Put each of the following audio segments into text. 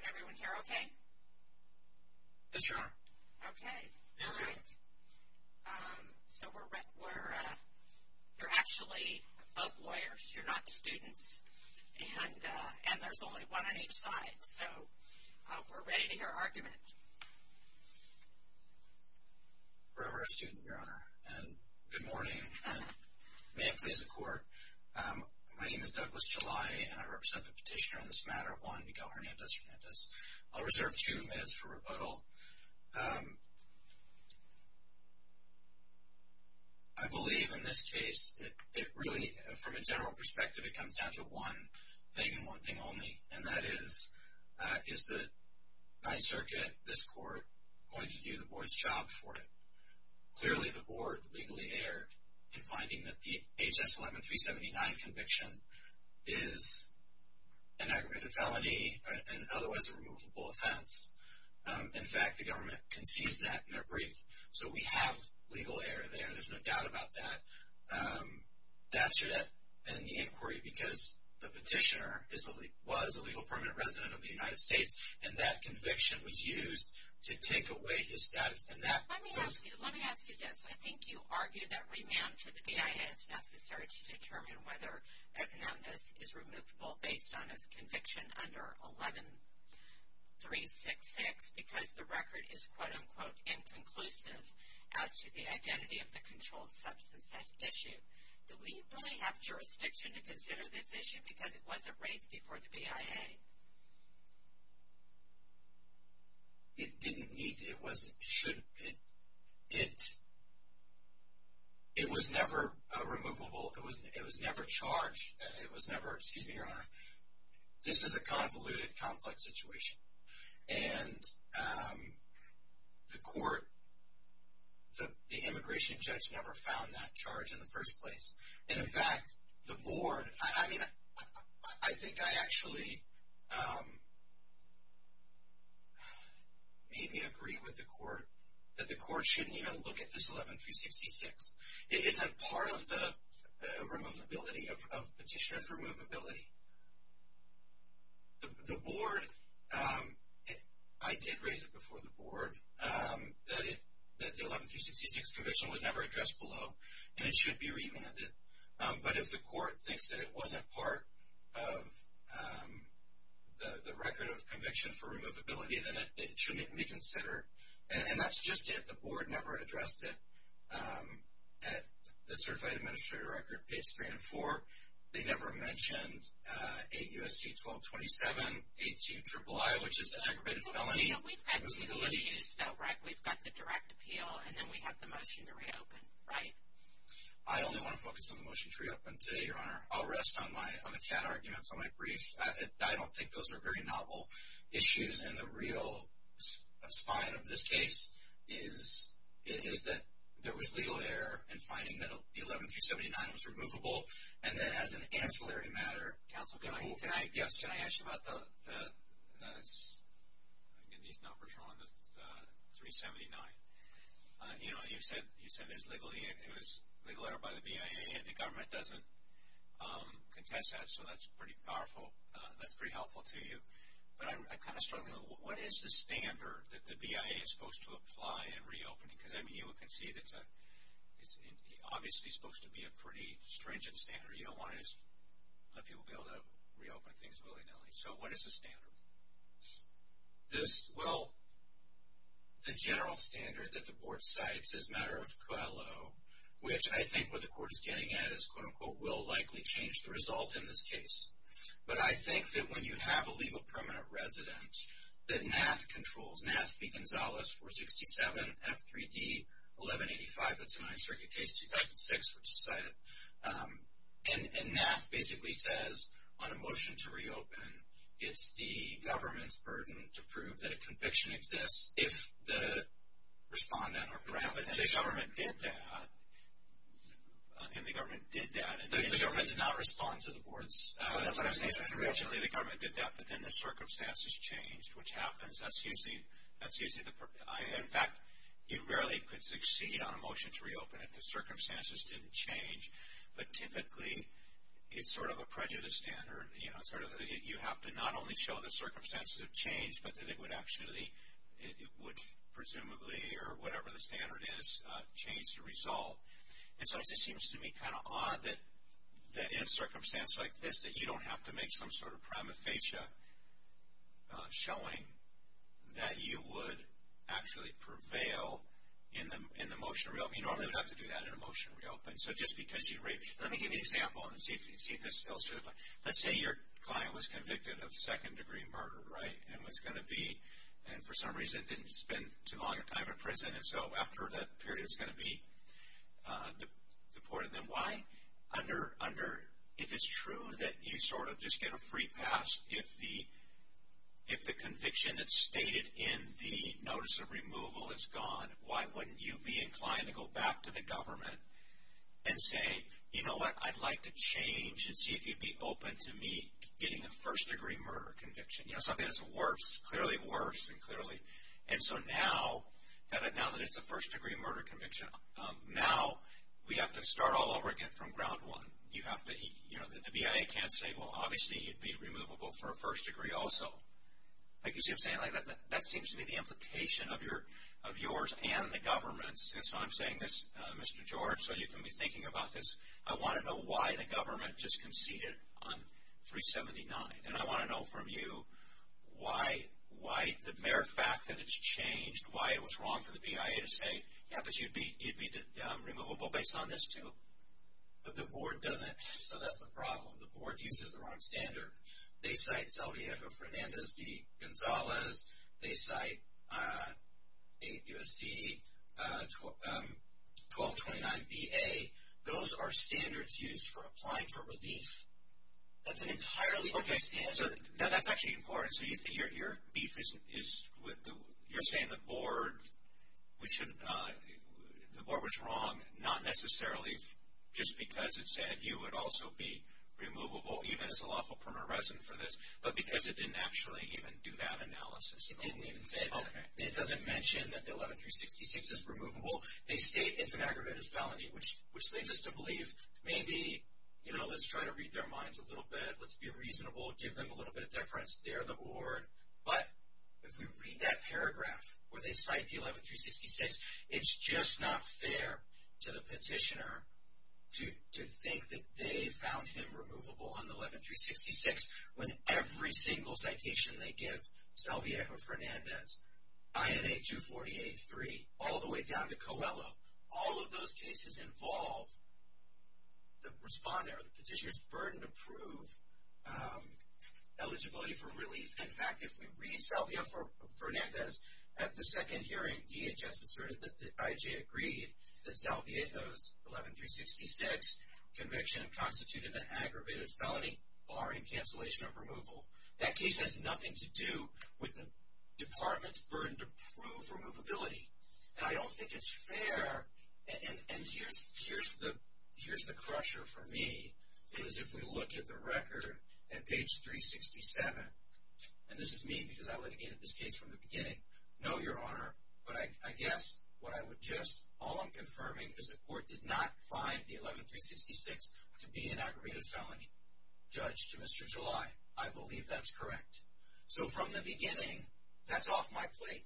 Can everyone hear okay? Yes, Your Honor. Okay. All right. So, you're actually both lawyers. You're not students. And there's only one on each side. So, we're ready to hear argument. Forever a student, Your Honor. And good morning. May it please the Court. My name is Douglas Jalai and I represent the petitioner on this matter, Juan Miguel Hernandez. I'll reserve two minutes for rebuttal. I believe in this case, it really, from a general perspective, it comes down to one thing and one thing only. And that is, is the Ninth Circuit, this Court, going to do the Board's job for it? Clearly, the Board legally erred in finding that the H.S. 11379 conviction is an aggravated felony, an otherwise removable offense. In fact, the government concedes that in their brief. So, we have legal error there. There's no doubt about that. That should end the inquiry because the petitioner was a legal permanent resident of the United States and that conviction was used to take away his status. Let me ask you this. I think you argue that renoun to the BIA is necessary to determine whether Hernandez is removable based on his conviction under 11366 because the record is, quote, unquote, inconclusive as to the identity of the controlled substance at issue. Do we really have jurisdiction to consider this issue because it wasn't raised before the BIA? It didn't need to, it wasn't, it shouldn't, it was never removable, it was never charged, it was never, excuse me, Your Honor. This is a convoluted, complex situation. And the Court, the immigration judge never found that charge in the first place. In fact, the Board, I mean, I think I actually maybe agree with the Court that the Court shouldn't even look at this 11366. It isn't part of the removability of petitioner's removability. The Board, I did raise it before the Board that the 11366 conviction was never addressed below and it should be remanded. But if the Court thinks that it wasn't part of the record of conviction for removability, then it shouldn't be considered. And that's just it. The Board never addressed it at the Certified Administrator Record Page 3 and 4. They never mentioned 8 U.S.C. 1227.82 IIII, which is an aggravated felony. So we've got two issues though, right? We've got the direct appeal and then we have the motion to reopen, right? I only want to focus on the motion to reopen today, Your Honor. I'll rest on my, on the cat arguments, on my brief. I don't think those are very novel issues. And the real spine of this case is, it is that there was legal error in finding that 11379 was removable. And then as an ancillary matter, counsel, can I, can I, yes, can I ask you about the, the, the, these numbers are on the 379. You know, you said, you said it was legally, it was legal error by the BIA and the government doesn't contest that. So that's pretty powerful. That's pretty helpful to you. But I'm kind of struggling. What is the standard that the BIA is supposed to apply in reopening? Because, I mean, you can see that it's a, it's obviously supposed to be a pretty stringent standard. You don't want to just let people be able to reopen things willy-nilly. So what is the standard? This, well, the general standard that the board cites is a matter of COALO, which I think what the court is getting at is, quote-unquote, will likely change the result in this case. But I think that when you have a legal permanent resident that NAAF controls, NAAF v. Gonzalez 467 F3D 1185, that's a Ninth Circuit case, 2006, which is cited. And, and NAAF basically says on a motion to reopen, it's the government's burden to prove that a conviction exists if the respondent or paraphernalia. But the government did that. And the government did that. The government did not respond to the board's recommendations. Originally the government did that, but then the circumstances changed, which happens. That's usually, that's usually the, in fact, you rarely could succeed on a motion to reopen if the circumstances didn't change. But typically, it's sort of a prejudice standard. You know, sort of, you have to not only show the circumstances have changed, but that it would actually, it would presumably, or whatever the standard is, change the result. And so it just seems to me kind of odd that, that in a circumstance like this, that you don't have to make some sort of prima facie showing that you would actually prevail in the, in the motion to reopen. You normally would have to do that in a motion to reopen. So just because you, let me give you an example and see if, see if this illustrates. Let's say your client was convicted of second degree murder, right, and was going to be, and for some reason didn't spend too long a time in prison. And so after that period, it's going to be deported. Then why under, under, if it's true that you sort of just get a free pass, if the, if the conviction that's stated in the notice of removal is gone, why wouldn't you be inclined to go back to the government and say, you know what, I'd like to change and see if you'd be open to me getting a first degree murder conviction. You know, something that's worse, clearly worse, and clearly. And so now that, now that it's a first degree murder conviction, now we have to start all over again from ground one. You have to, you know, the BIA can't say, well, obviously you'd be removable for a first degree also. Like you see what I'm saying, that seems to be the implication of your, of yours and the government's. And so I'm saying this, Mr. George, so you can be thinking about this. I want to know why the government just conceded on 379. And I want to know from you why, why the mere fact that it's changed, why it was wrong for the BIA to say, yeah, but you'd be, you'd be removable based on this too. But the board doesn't, so that's the problem. The board uses the wrong standard. They cite Salviato Fernandez v. Gonzalez. They cite 8 U.S.C., 1229 B.A. Those are standards used for applying for relief. That's an entirely different standard. Okay. Now, that's actually important. So you're saying the board, the board was wrong, not necessarily just because it said you would also be removable, even as a lawful permanent resident for this, but because it didn't actually even do that analysis. It didn't even say that. It doesn't mention that the 11366 is removable. They state it's an aggravated felony, which leads us to believe maybe, you know, let's try to read their minds a little bit, let's be reasonable, give them a little bit of deference. They're the board. But if we read that paragraph where they cite the 11366, it's just not fair to the petitioner to think that they found him removable on the 11366 when every single citation they give, Salviajo-Fernandez, INA 248-3, all the way down to Coelho, all of those cases involve the responder, the petitioner's burden to prove eligibility for relief. In fact, if we read Salviajo-Fernandez, at the second hearing, DHS asserted that the IJ agreed that Salviajo's 11366 conviction constituted an aggravated felony barring cancellation of removal. That case has nothing to do with the department's burden to prove removability, and I don't think it's fair. And here's the crusher for me, is if we look at the record at page 367, and this is me because I litigated this case from the beginning. No, Your Honor, but I guess what I would just, all I'm confirming is the court did not find the 11366 to be an aggravated felony. Judge, to Mr. July, I believe that's correct. So from the beginning, that's off my plate,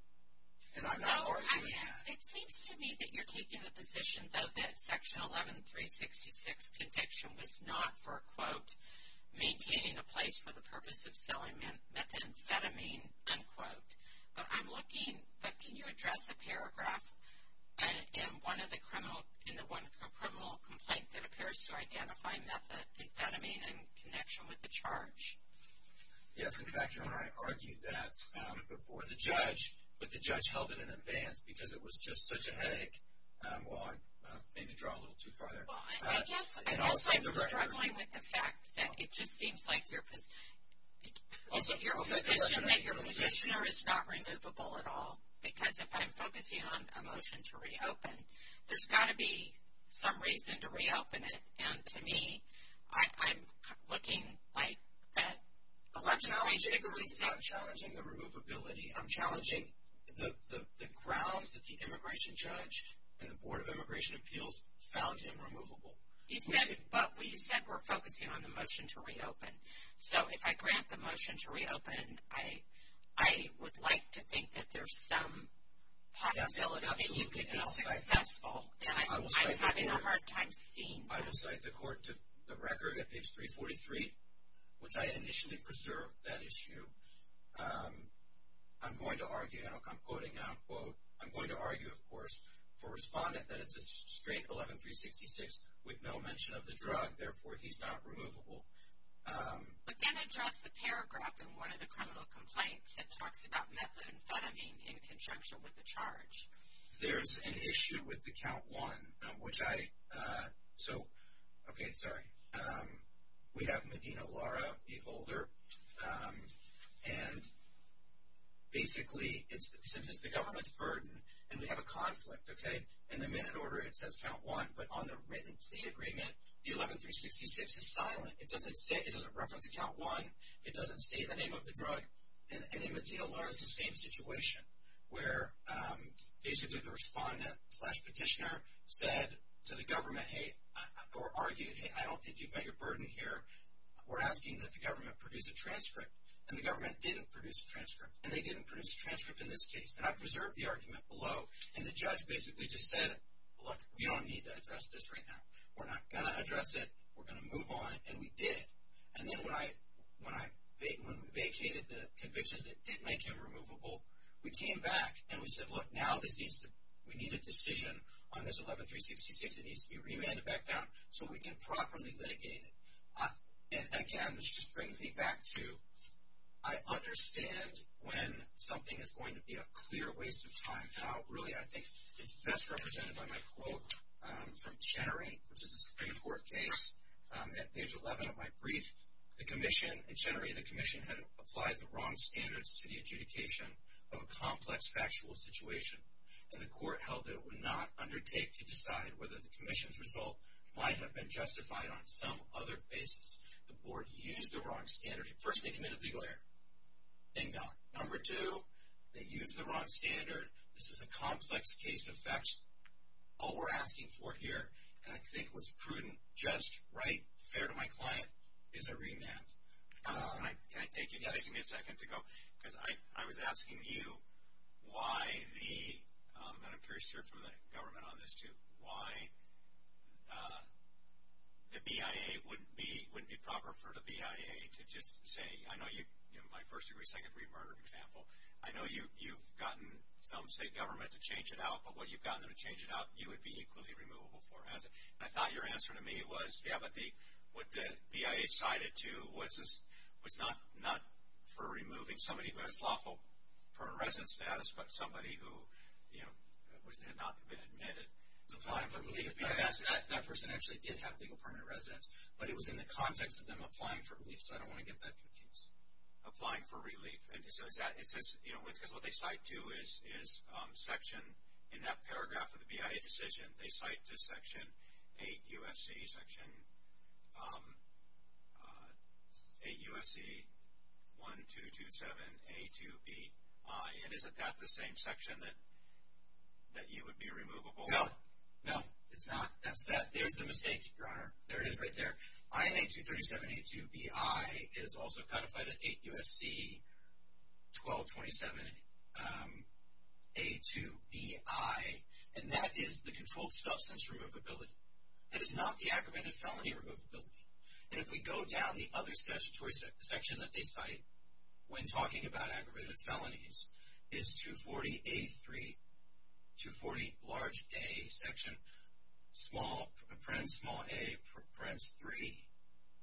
and I'm not arguing that. So it seems to me that you're taking the position that that section 11366 conviction was not for, quote, maintaining a place for the purpose of selling methamphetamine, unquote. But I'm looking, but can you address a paragraph in one of the criminal, in the one criminal complaint that appears to identify methamphetamine in connection with the charge? Yes, in fact, Your Honor, I argued that before the judge, but the judge held it in advance because it was just such a headache. Well, I may have drawn a little too far there. Well, I guess I'm struggling with the fact that it just seems like your position that your petitioner is not removable at all. Because if I'm focusing on a motion to reopen, there's got to be some reason to reopen it. And to me, I'm looking like that 11366. I'm challenging the removability. I'm challenging the grounds that the immigration judge and the Board of Immigration Appeals found him removable. But you said we're focusing on the motion to reopen. So if I grant the motion to reopen, I would like to think that there's some possibility that you could be successful. And I'm having a hard time seeing that. I will cite the court to the record at page 343, which I initially preserved that issue. I'm going to argue, and I'm quoting now, quote, I'm going to argue, of course, for respondent that it's a straight 11366 with no mention of the drug. Therefore, he's not removable. But then address the paragraph in one of the criminal complaints that talks about methamphetamine in conjunction with the charge. There's an issue with the count one, which I, so, okay, sorry. We have Medina Lara, the holder. And basically, since it's the government's burden, and we have a conflict, okay? In the minute order, it says count one. But on the written plea agreement, the 11366 is silent. It doesn't say, it doesn't reference count one. It doesn't say the name of the drug. And in Medina Lara, it's the same situation where basically the respondent slash petitioner said to the government, hey, or argued, hey, I don't think you've met your burden here. We're asking that the government produce a transcript. And the government didn't produce a transcript. And they didn't produce a transcript in this case. And I preserved the argument below. And the judge basically just said, look, we don't need to address this right now. We're not going to address it. We're going to move on. And we did. And then when I vacated the convictions that didn't make him removable, we came back and we said, look, now we need a decision on this 11366 that needs to be remanded back down so we can properly litigate it. And, again, let's just bring me back to I understand when something is going to be a clear waste of time. Now, really, I think it's best represented by my quote from Chenery, which is a Supreme Court case. At page 11 of my brief, the commission, in Chenery, the commission had applied the wrong standards to the adjudication of a complex factual situation. And the court held that it would not undertake to decide whether the commission's result might have been justified on some other basis. The board used the wrong standard. First, they committed legal error. Ding dong. Number two, they used the wrong standard. This is a complex case of facts. All we're asking for here, and I think what's prudent, just right, fair to my client, is a remand. Can I take you just a second to go? Yes. Because I was asking you why the, and I'm curious to hear from the government on this, too, why the BIA wouldn't be proper for the BIA to just say, I know my first degree, second degree murder example, I know you've gotten some state government to change it out, but what you've gotten them to change it out, you would be equally removable for. And I thought your answer to me was, yeah, but what the BIA cited, too, was not for removing somebody who has lawful permanent residence status, but somebody who had not been admitted. Applying for relief. That person actually did have legal permanent residence, but it was in the context of them applying for relief, so I don't want to get that confused. Applying for relief. Because what they cite to is section, in that paragraph of the BIA decision, they cite to section 8 U.S.C., section 8 U.S.C. 1227A2BI, and isn't that the same section that you would be removable for? No, no, it's not. That's that. There's the mistake, Your Honor. There it is right there. INA 237A2BI is also codified at 8 U.S.C. 1227A2BI, and that is the controlled substance removability. That is not the aggravated felony removability. And if we go down the other statutory section that they cite when talking about aggravated felonies, is 240A3, 240 large A section, small A,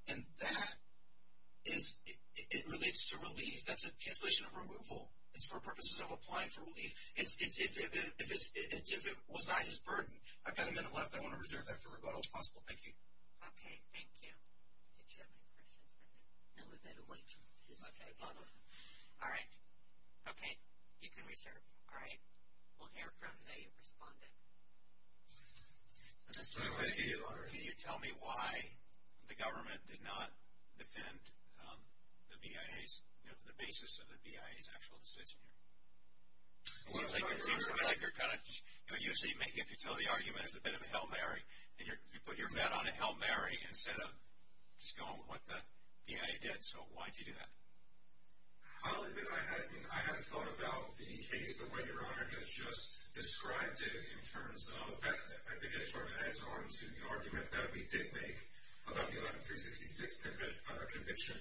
and that relates to relief. That's a cancellation of removal. It's for purposes of applying for relief. If it was not his burden. I've got a minute left. I want to reserve that for as long as possible. Thank you. Okay. Thank you. Did you have any questions for me? No, we're good. Okay. All right. Okay. You can reserve. All right. We'll hear from the respondent. Can you tell me why the government did not defend the BIA's, you know, the basis of the BIA's actual decision here? It seems to me like they're kind of, you know, usually if you tell the argument it's a bit of a Hail Mary, and you put your bet on a Hail Mary instead of just going with what the BIA did. So why did you do that? I'll admit I hadn't thought about the case the way Your Honor has just described it in terms of, I think it sort of adds on to the argument that we did make about the 11-366 conviction.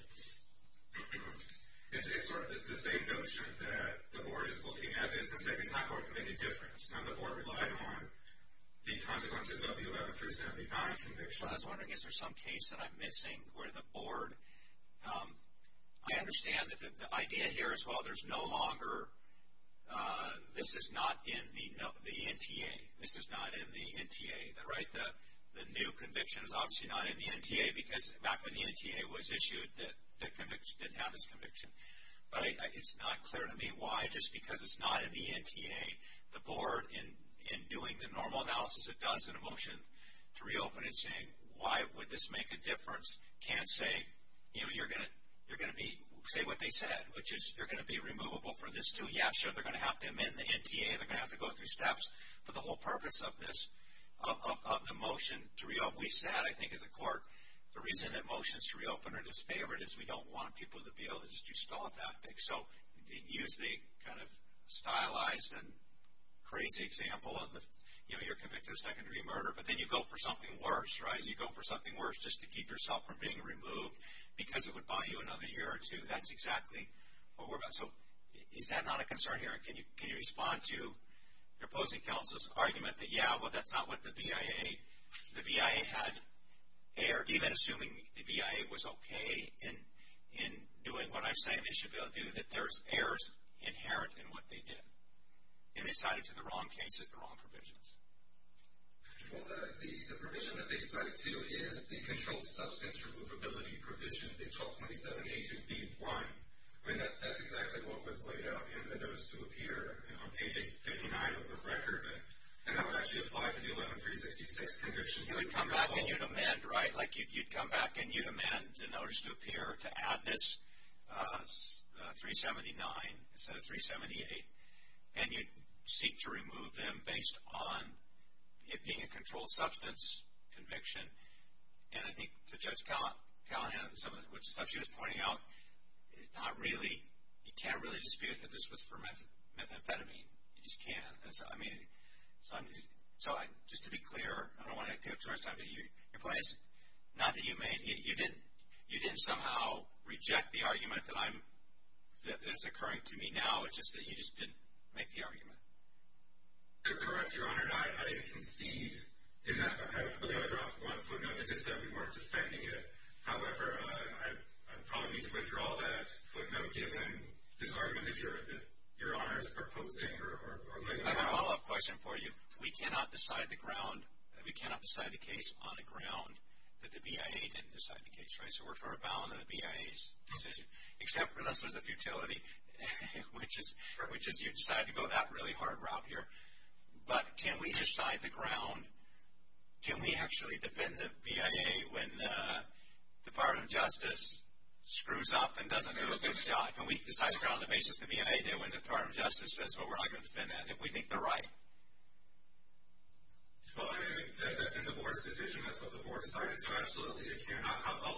It's sort of the same notion that the board is looking at this and saying it's not going to make a difference, and the board relied on the consequences of the 11-379 conviction. I was wondering is there some case that I'm missing where the board, I understand that the idea here is, well, there's no longer, this is not in the NTA. This is not in the NTA. Right? The new conviction is obviously not in the NTA because back when the NTA was issued, the conviction didn't have its conviction. But it's not clear to me why just because it's not in the NTA. The board in doing the normal analysis it does in a motion to reopen and saying why would this make a difference can't say, you know, you're going to be, say what they said, which is you're going to be removable for this too. Yeah, sure, they're going to have to amend the NTA. They're going to have to go through steps for the whole purpose of this, of the motion to reopen. We've said, I think as a court, the reason that motions to reopen are disfavored is we don't want people to be able to just do stall tactics. So use the kind of stylized and crazy example of, you know, you're convicted of secondary murder, but then you go for something worse, right? You go for something worse just to keep yourself from being removed because it would buy you another year or two. That's exactly what we're about. So is that not a concern here? Can you respond to the opposing counsel's argument that, yeah, well, that's not what the BIA, the BIA had error, even assuming the BIA was okay in doing what I'm saying they should be able to do, that there's errors inherent in what they did, and they cited to the wrong cases the wrong provisions. Well, the provision that they cited to is the controlled substance removability provision, the 1227A2B1. I mean, that's exactly what was laid out in the notice to appear on page 59 of the record, and that would actually apply to the 11366 conviction. You would come back and you'd amend, right? Like you'd come back and you'd amend the notice to appear to add this 379 instead of 378, and you'd seek to remove them based on it being a controlled substance conviction. And I think to Judge Callahan, some of the stuff she was pointing out, not really, you can't really dispute that this was for methamphetamine. You just can't. I mean, so just to be clear, I don't want to take up too much time, but your point is not that you made, you didn't somehow reject the argument that's occurring to me now. It's just that you just didn't make the argument. To correct Your Honor, I didn't concede in that. I believe I dropped one footnote that just said we weren't defending it. However, I probably need to withdraw that footnote given this argument that Your Honor is proposing or laying out. I have a follow-up question for you. We cannot decide the case on the ground that the BIA didn't decide the case, right? So we're for a bow in the BIA's decision, except for this is a futility, which is you decided to go that really hard route here. But can we decide the ground? Can we actually defend the BIA when the Department of Justice screws up and doesn't do a good job? Can we decide the ground on the basis the BIA did when the Department of Justice says, well, we're not going to defend that if we think they're right? Well, I mean, that's in the Board's decision. That's what the Board decided. So, absolutely, I'll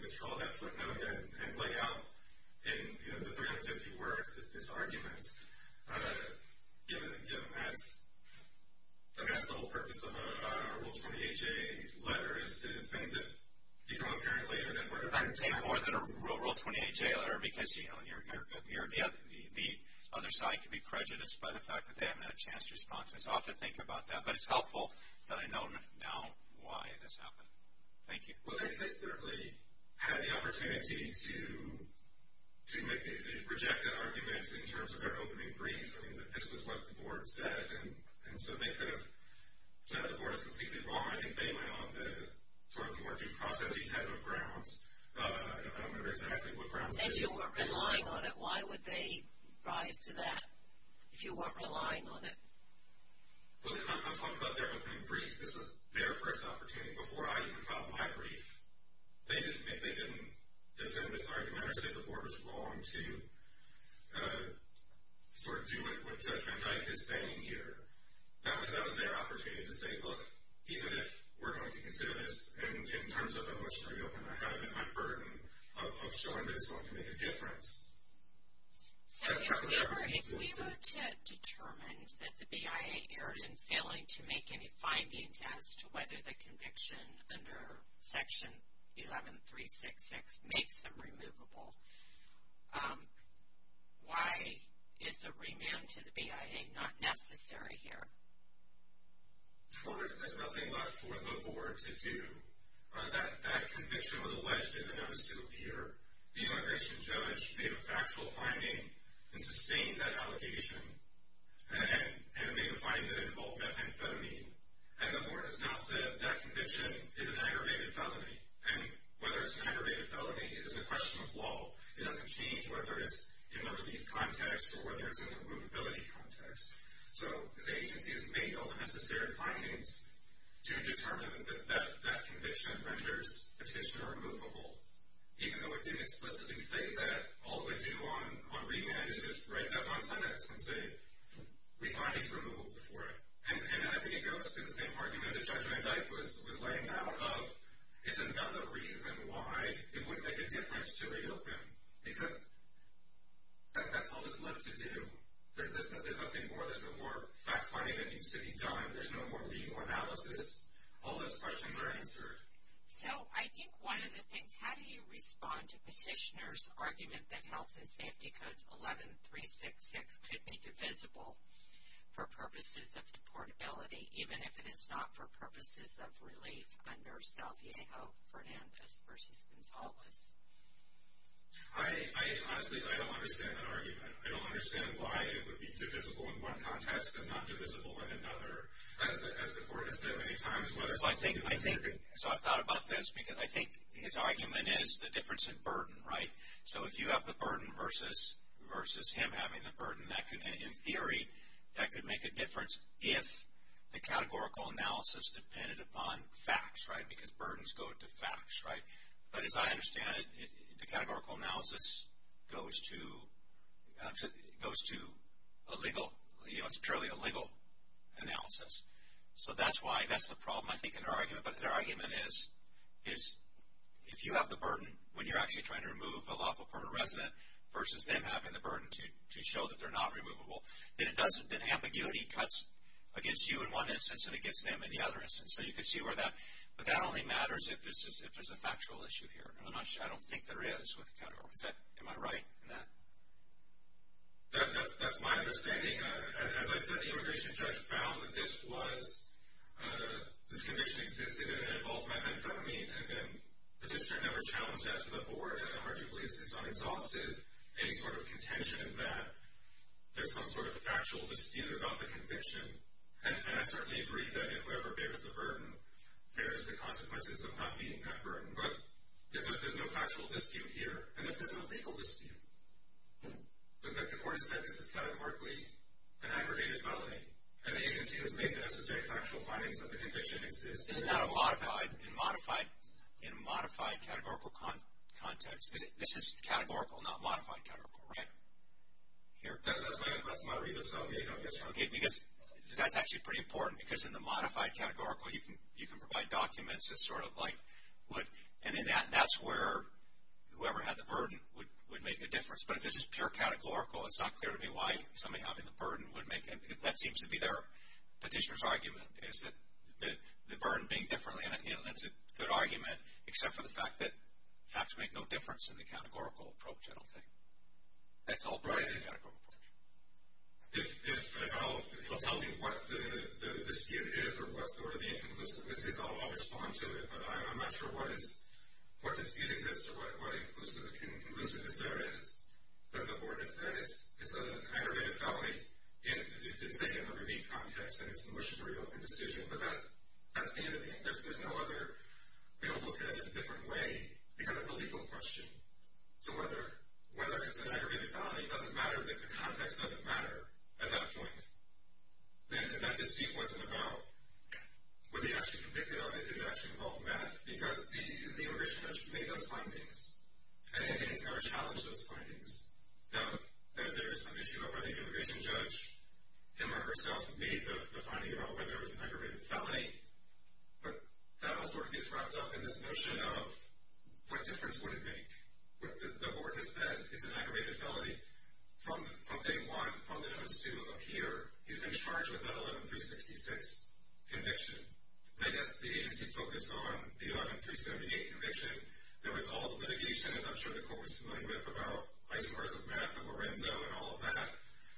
withdraw that footnote and lay out in the 350 words this argument, given that, I guess, the whole purpose of a Rule 20HA letter is to things that become apparent later. I'm saying more than a Rule 20HA letter because, you know, the other side can be prejudiced by the fact that they haven't had a chance to respond to this. I'll have to think about that. But it's helpful that I know now why this happened. Thank you. Well, they certainly had the opportunity to reject that argument in terms of their opening brief. I mean, this was what the Board said. And so they could have said the Board is completely wrong. I think they went on the sort of more due process-y type of grounds. I don't remember exactly what grounds they went on. If you weren't relying on it, why would they rise to that if you weren't relying on it? Well, I'm talking about their opening brief. This was their first opportunity before I even filed my brief. They didn't defend this argument or say the Board was wrong to sort of do what Trent Dyke is saying here. That was their opportunity to say, look, even if we're going to consider this in terms of a motion to reopen, I have it at my burden of showing that it's going to make a difference. So if we were to determine that the BIA erred in failing to make any findings as to whether the conviction under Section 11366 makes them removable, why is a renewal to the BIA not necessary here? Well, there's nothing left for the Board to do. That conviction was alleged and it was still here. The immigration judge made a factual finding and sustained that allegation and made a finding that it involved methamphetamine. And the Board has now said that conviction is an aggravated felony. And whether it's an aggravated felony is a question of law. It doesn't change whether it's in the relief context or whether it's in the removability context. So the agency has made all the necessary findings to determine that that conviction renders petitioner removable, even though it didn't explicitly say that. All it would do on remand is just write that one sentence and say, we find he's removable for it. And I think it goes to the same argument that Judge Van Dyke was laying out of, it's another reason why it wouldn't make a difference to reopen. Because that's all that's left to do. There's nothing more. There's no more fact-finding that needs to be done. There's no more legal analysis. All those questions are answered. So I think one of the things, how do you respond to petitioner's argument that Health and Safety Codes 11366 could be divisible for purposes of deportability, even if it is not for purposes of relief under Salviejo-Fernandez v. Gonzalez? Honestly, I don't understand that argument. I don't understand why it would be divisible in one context and not divisible in another. As the Court has said many times, whether it's legal or not. So I've thought about this. I think his argument is the difference in burden, right? So if you have the burden versus him having the burden, in theory, that could make a difference if the categorical analysis depended upon facts, right? Because burdens go to facts, right? But as I understand it, the categorical analysis goes to a legal, you know, it's purely a legal analysis. So that's the problem, I think, in our argument. But our argument is if you have the burden when you're actually trying to remove a lawful permanent resident versus them having the burden to show that they're not removable, then ambiguity cuts against you in one instance and against them in the other instance. So you could see where that, but that only matters if there's a factual issue here. And I'm not sure, I don't think there is with categories. Is that, am I right in that? That's my understanding. As I said, the immigration judge found that this was, this conviction existed, and it involved methamphetamine, and then the district never challenged that to the board. And arguably, since I'm exhausted, any sort of contention that there's some sort of factual dispute about the conviction. And I certainly agree that whoever bears the burden bears the consequences of not meeting that burden. But if there's no factual dispute here, and if there's no legal dispute, then the court has said this is categorically an aggravated felony. And the agency has made the necessary factual findings that the conviction exists. This is not a modified, in a modified categorical context. This is categorical, not modified categorical, right? Here. Okay, because that's actually pretty important. Because in the modified categorical, you can provide documents that sort of like would, and that's where whoever had the burden would make a difference. But if this is pure categorical, it's not clear to me why somebody having the burden would make, and that seems to be their petitioner's argument, is that the burden being differently. And that's a good argument, except for the fact that facts make no difference in the categorical approach, I don't think. That's all broadly categorical. If you'll tell me what the dispute is or what sort of the inconclusiveness is, I'll respond to it. But I'm not sure what dispute exists or what inconclusiveness there is that the board has said. It's an aggravated felony. It's in the review context, and it's a motion to reopen decision. But that's the end of the interview. There's no other way to look at it in a different way, because it's a legal question. So whether it's an aggravated felony doesn't matter, but the context doesn't matter at that point. And that dispute wasn't about was he actually convicted or did it actually involve math, because the immigration judge made those findings, and he's going to challenge those findings. Now, there is some issue about whether the immigration judge, him or herself, made the finding about whether it was an aggravated felony, but that all sort of gets wrapped up in this notion of what difference would it make. The board has said it's an aggravated felony. From day one, from the notice to appear, he's been charged with that 11-366 conviction. I guess the agency focused on the 11-378 conviction. There was all the litigation, as I'm sure the court was familiar with, about ICE bars of math and Lorenzo and all of that.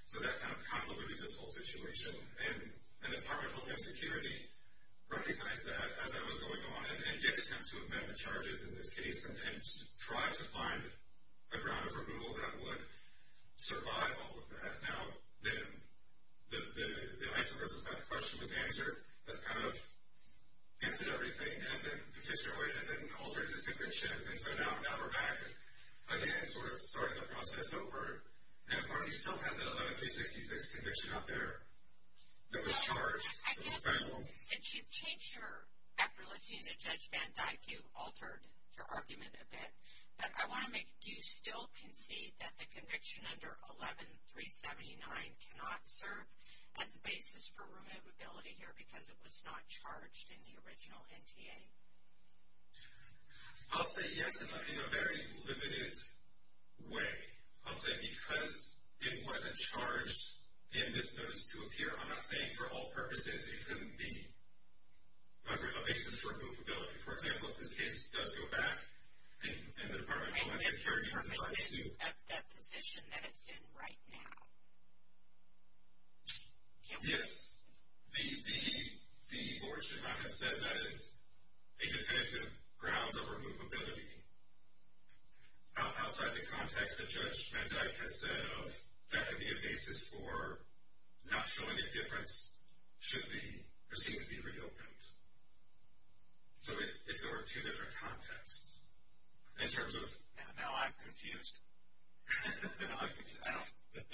So that kind of complemented this whole situation. And the Department of Homeland Security recognized that as that was going on and did attempt to amend the charges in this case and tried to find a ground of removal that would survive all of that. Now, the ICE of us of math question was answered, but kind of answered everything and then petitioned away and then altered his conviction. And so now we're back again sort of starting the process over. And the party still has that 11-366 conviction up there that was charged. It was final. I guess since you've changed your, after listening to Judge Van Dyke, you've altered your argument a bit, but I want to make, do you still concede that the conviction under 11-379 cannot serve as a basis for removability here because it was not charged in the original NTA? I'll say yes in a very limited way. I'll say because it wasn't charged in this notice to appear. I'm not saying for all purposes it couldn't be a basis for removability. For example, if this case does go back and the Department of Homeland Security decides to. And if for purposes of that position that it's in right now. Yes. The board should not have said that is a definitive grounds of removability. Outside the context that Judge Van Dyke has said of that could be a basis for not showing a difference should the proceedings be reopened. So it's over two different contexts. In terms of. Now I'm confused.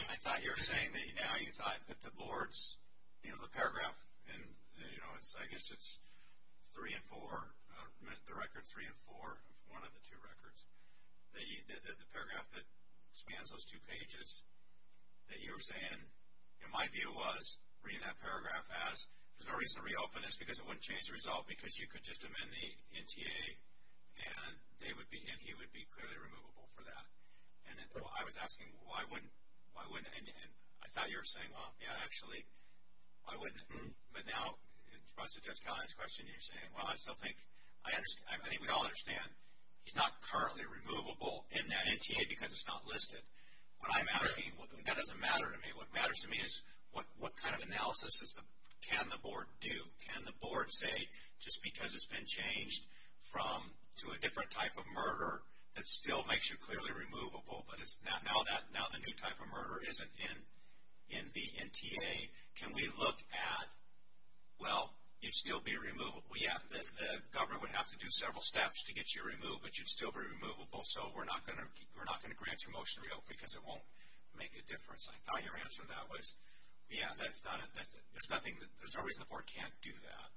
I thought you were saying that now you thought that the board's, you know, I guess it's three and four, the record three and four of one of the two records. The paragraph that spans those two pages that you were saying, my view was reading that paragraph as there's no reason to reopen this because it wouldn't change the result because you could just amend the NTA and he would be clearly removable for that. And I was asking why wouldn't, and I thought you were saying, well, yeah, actually, why wouldn't it? But now in response to Judge Kelly's question, you're saying, well, I still think, I think we all understand he's not currently removable in that NTA because it's not listed. What I'm asking, that doesn't matter to me. What matters to me is what kind of analysis can the board do? Can the board say just because it's been changed to a different type of murder that still makes you clearly removable, but now the new type of murder isn't in the NTA. Can we look at, well, you'd still be removable. Yeah, the government would have to do several steps to get you removed, but you'd still be removable, so we're not going to grant you a motion to reopen because it won't make a difference. I thought your answer to that was, yeah, there's no reason the board can't do that.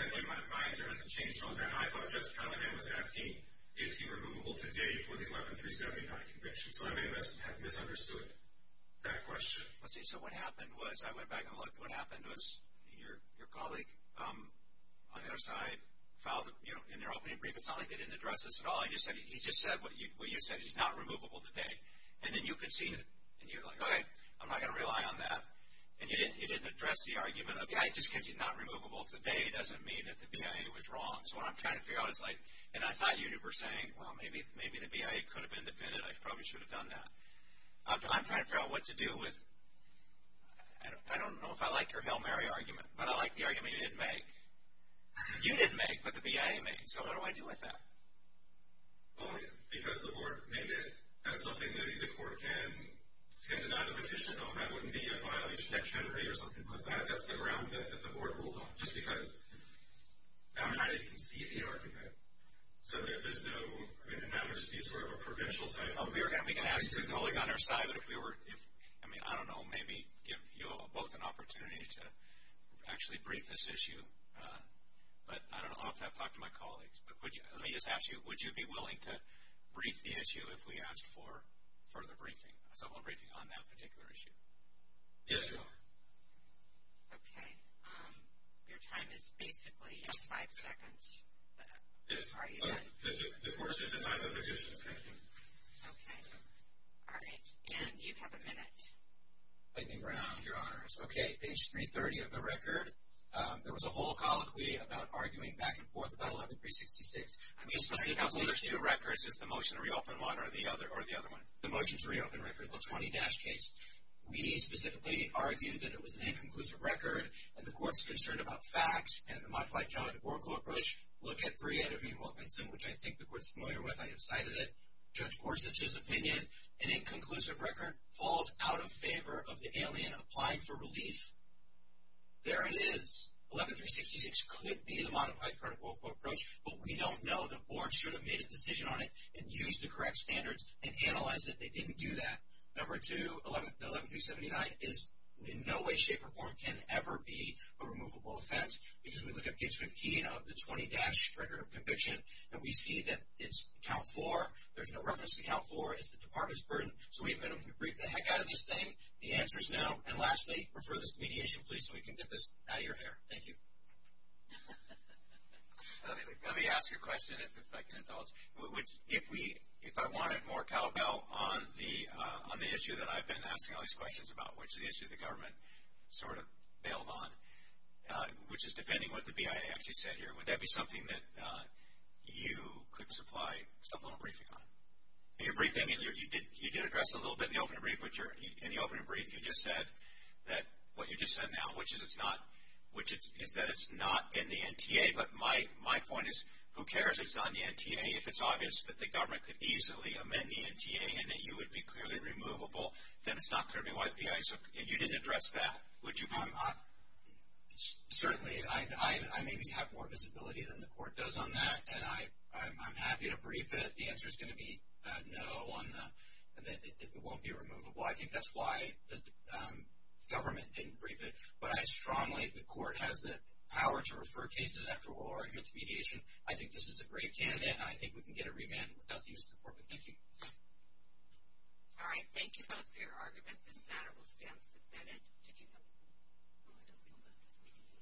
Secondly, my answer hasn't changed on that. I thought Judge Callahan was asking, is he removable today for the 11379 conviction. So I may have misunderstood that question. So what happened was, I went back and looked, what happened was your colleague on the other side filed in their opening brief. It's not like they didn't address this at all. He just said what you said, he's not removable today. And then you conceded, and you're like, okay, I'm not going to rely on that. And you didn't address the argument. Just because he's not removable today doesn't mean that the BIA was wrong. So what I'm trying to figure out is like, and I thought you were saying, well, maybe the BIA could have been defended. I probably should have done that. I'm trying to figure out what to do with, I don't know if I like your Hail Mary argument, but I like the argument you didn't make. You didn't make, but the BIA made. So what do I do with that? Because the board made it, that's something the court can deny the petition. That wouldn't be a violation of integrity or something like that. That's the ground that the board ruled on. Just because, I mean, I didn't concede the argument. So there's no, I mean, now there's sort of a provincial type. We can ask the colleague on our side, but if we were, I mean, I don't know, maybe give you both an opportunity to actually brief this issue. But I don't know, I'll have to talk to my colleagues. But let me just ask you, would you be willing to brief the issue if we asked for further briefing, a civil briefing on that particular issue? Yes, Your Honor. Okay. Your time is basically five seconds. Are you done? The court has denied the petition. Thank you. Okay. All right. And you have a minute. Lightning round, Your Honors. Okay. Page 330 of the record. There was a whole colloquy about arguing back and forth about 11366. I'm used to seeing those two records. Is the motion to reopen one or the other one? The motion to reopen Record Book 20-Case. We specifically argue that it was an inconclusive record, and the court's concerned about facts, and the Modified Charter Border Code approach. Look at 3 out of 8 Wilkinson, which I think the court's familiar with. I have cited it. Judge Gorsuch's opinion, an inconclusive record falls out of favor of the alien applying for relief. There it is. 11366 could be the Modified Charter Border Code approach, but we don't know. The board should have made a decision on it and used the correct standards and analyzed it. They didn't do that. Number two, the 11379 is in no way, shape, or form can ever be a removable offense, because we look at page 15 of the 20-Record of Conviction, and we see that it's count four. There's no reference to count four. It's the department's burden. So even if we brief the heck out of this thing, the answer's no. And lastly, refer this to mediation, please, so we can get this out of your hair. Thank you. Let me ask you a question, if I can indulge. If I wanted more cowbell on the issue that I've been asking all these questions about, which is the issue the government sort of bailed on, which is defending what the BIA actually said here, would that be something that you could supply subliminal briefing on? In your briefing, you did address a little bit in the opening brief, but in the opening brief you just said that what you just said now, which is that it's not in the NTA. But my point is, who cares if it's not in the NTA? If it's obvious that the government could easily amend the NTA and that you would be clearly removable, then it's not clearly why the BIA is. You didn't address that, would you? Certainly. I maybe have more visibility than the court does on that, and I'm happy to brief it. The answer is going to be no, and that it won't be removable. I think that's why the government didn't brief it. But I strongly think the court has the power to refer cases after oral argument to mediation. I think this is a great candidate, and I think we can get a remand without the use of the court. But thank you. All right. Thank you both for your argument. This matter will stand as a bed-end to judgement. I don't know about this mediation.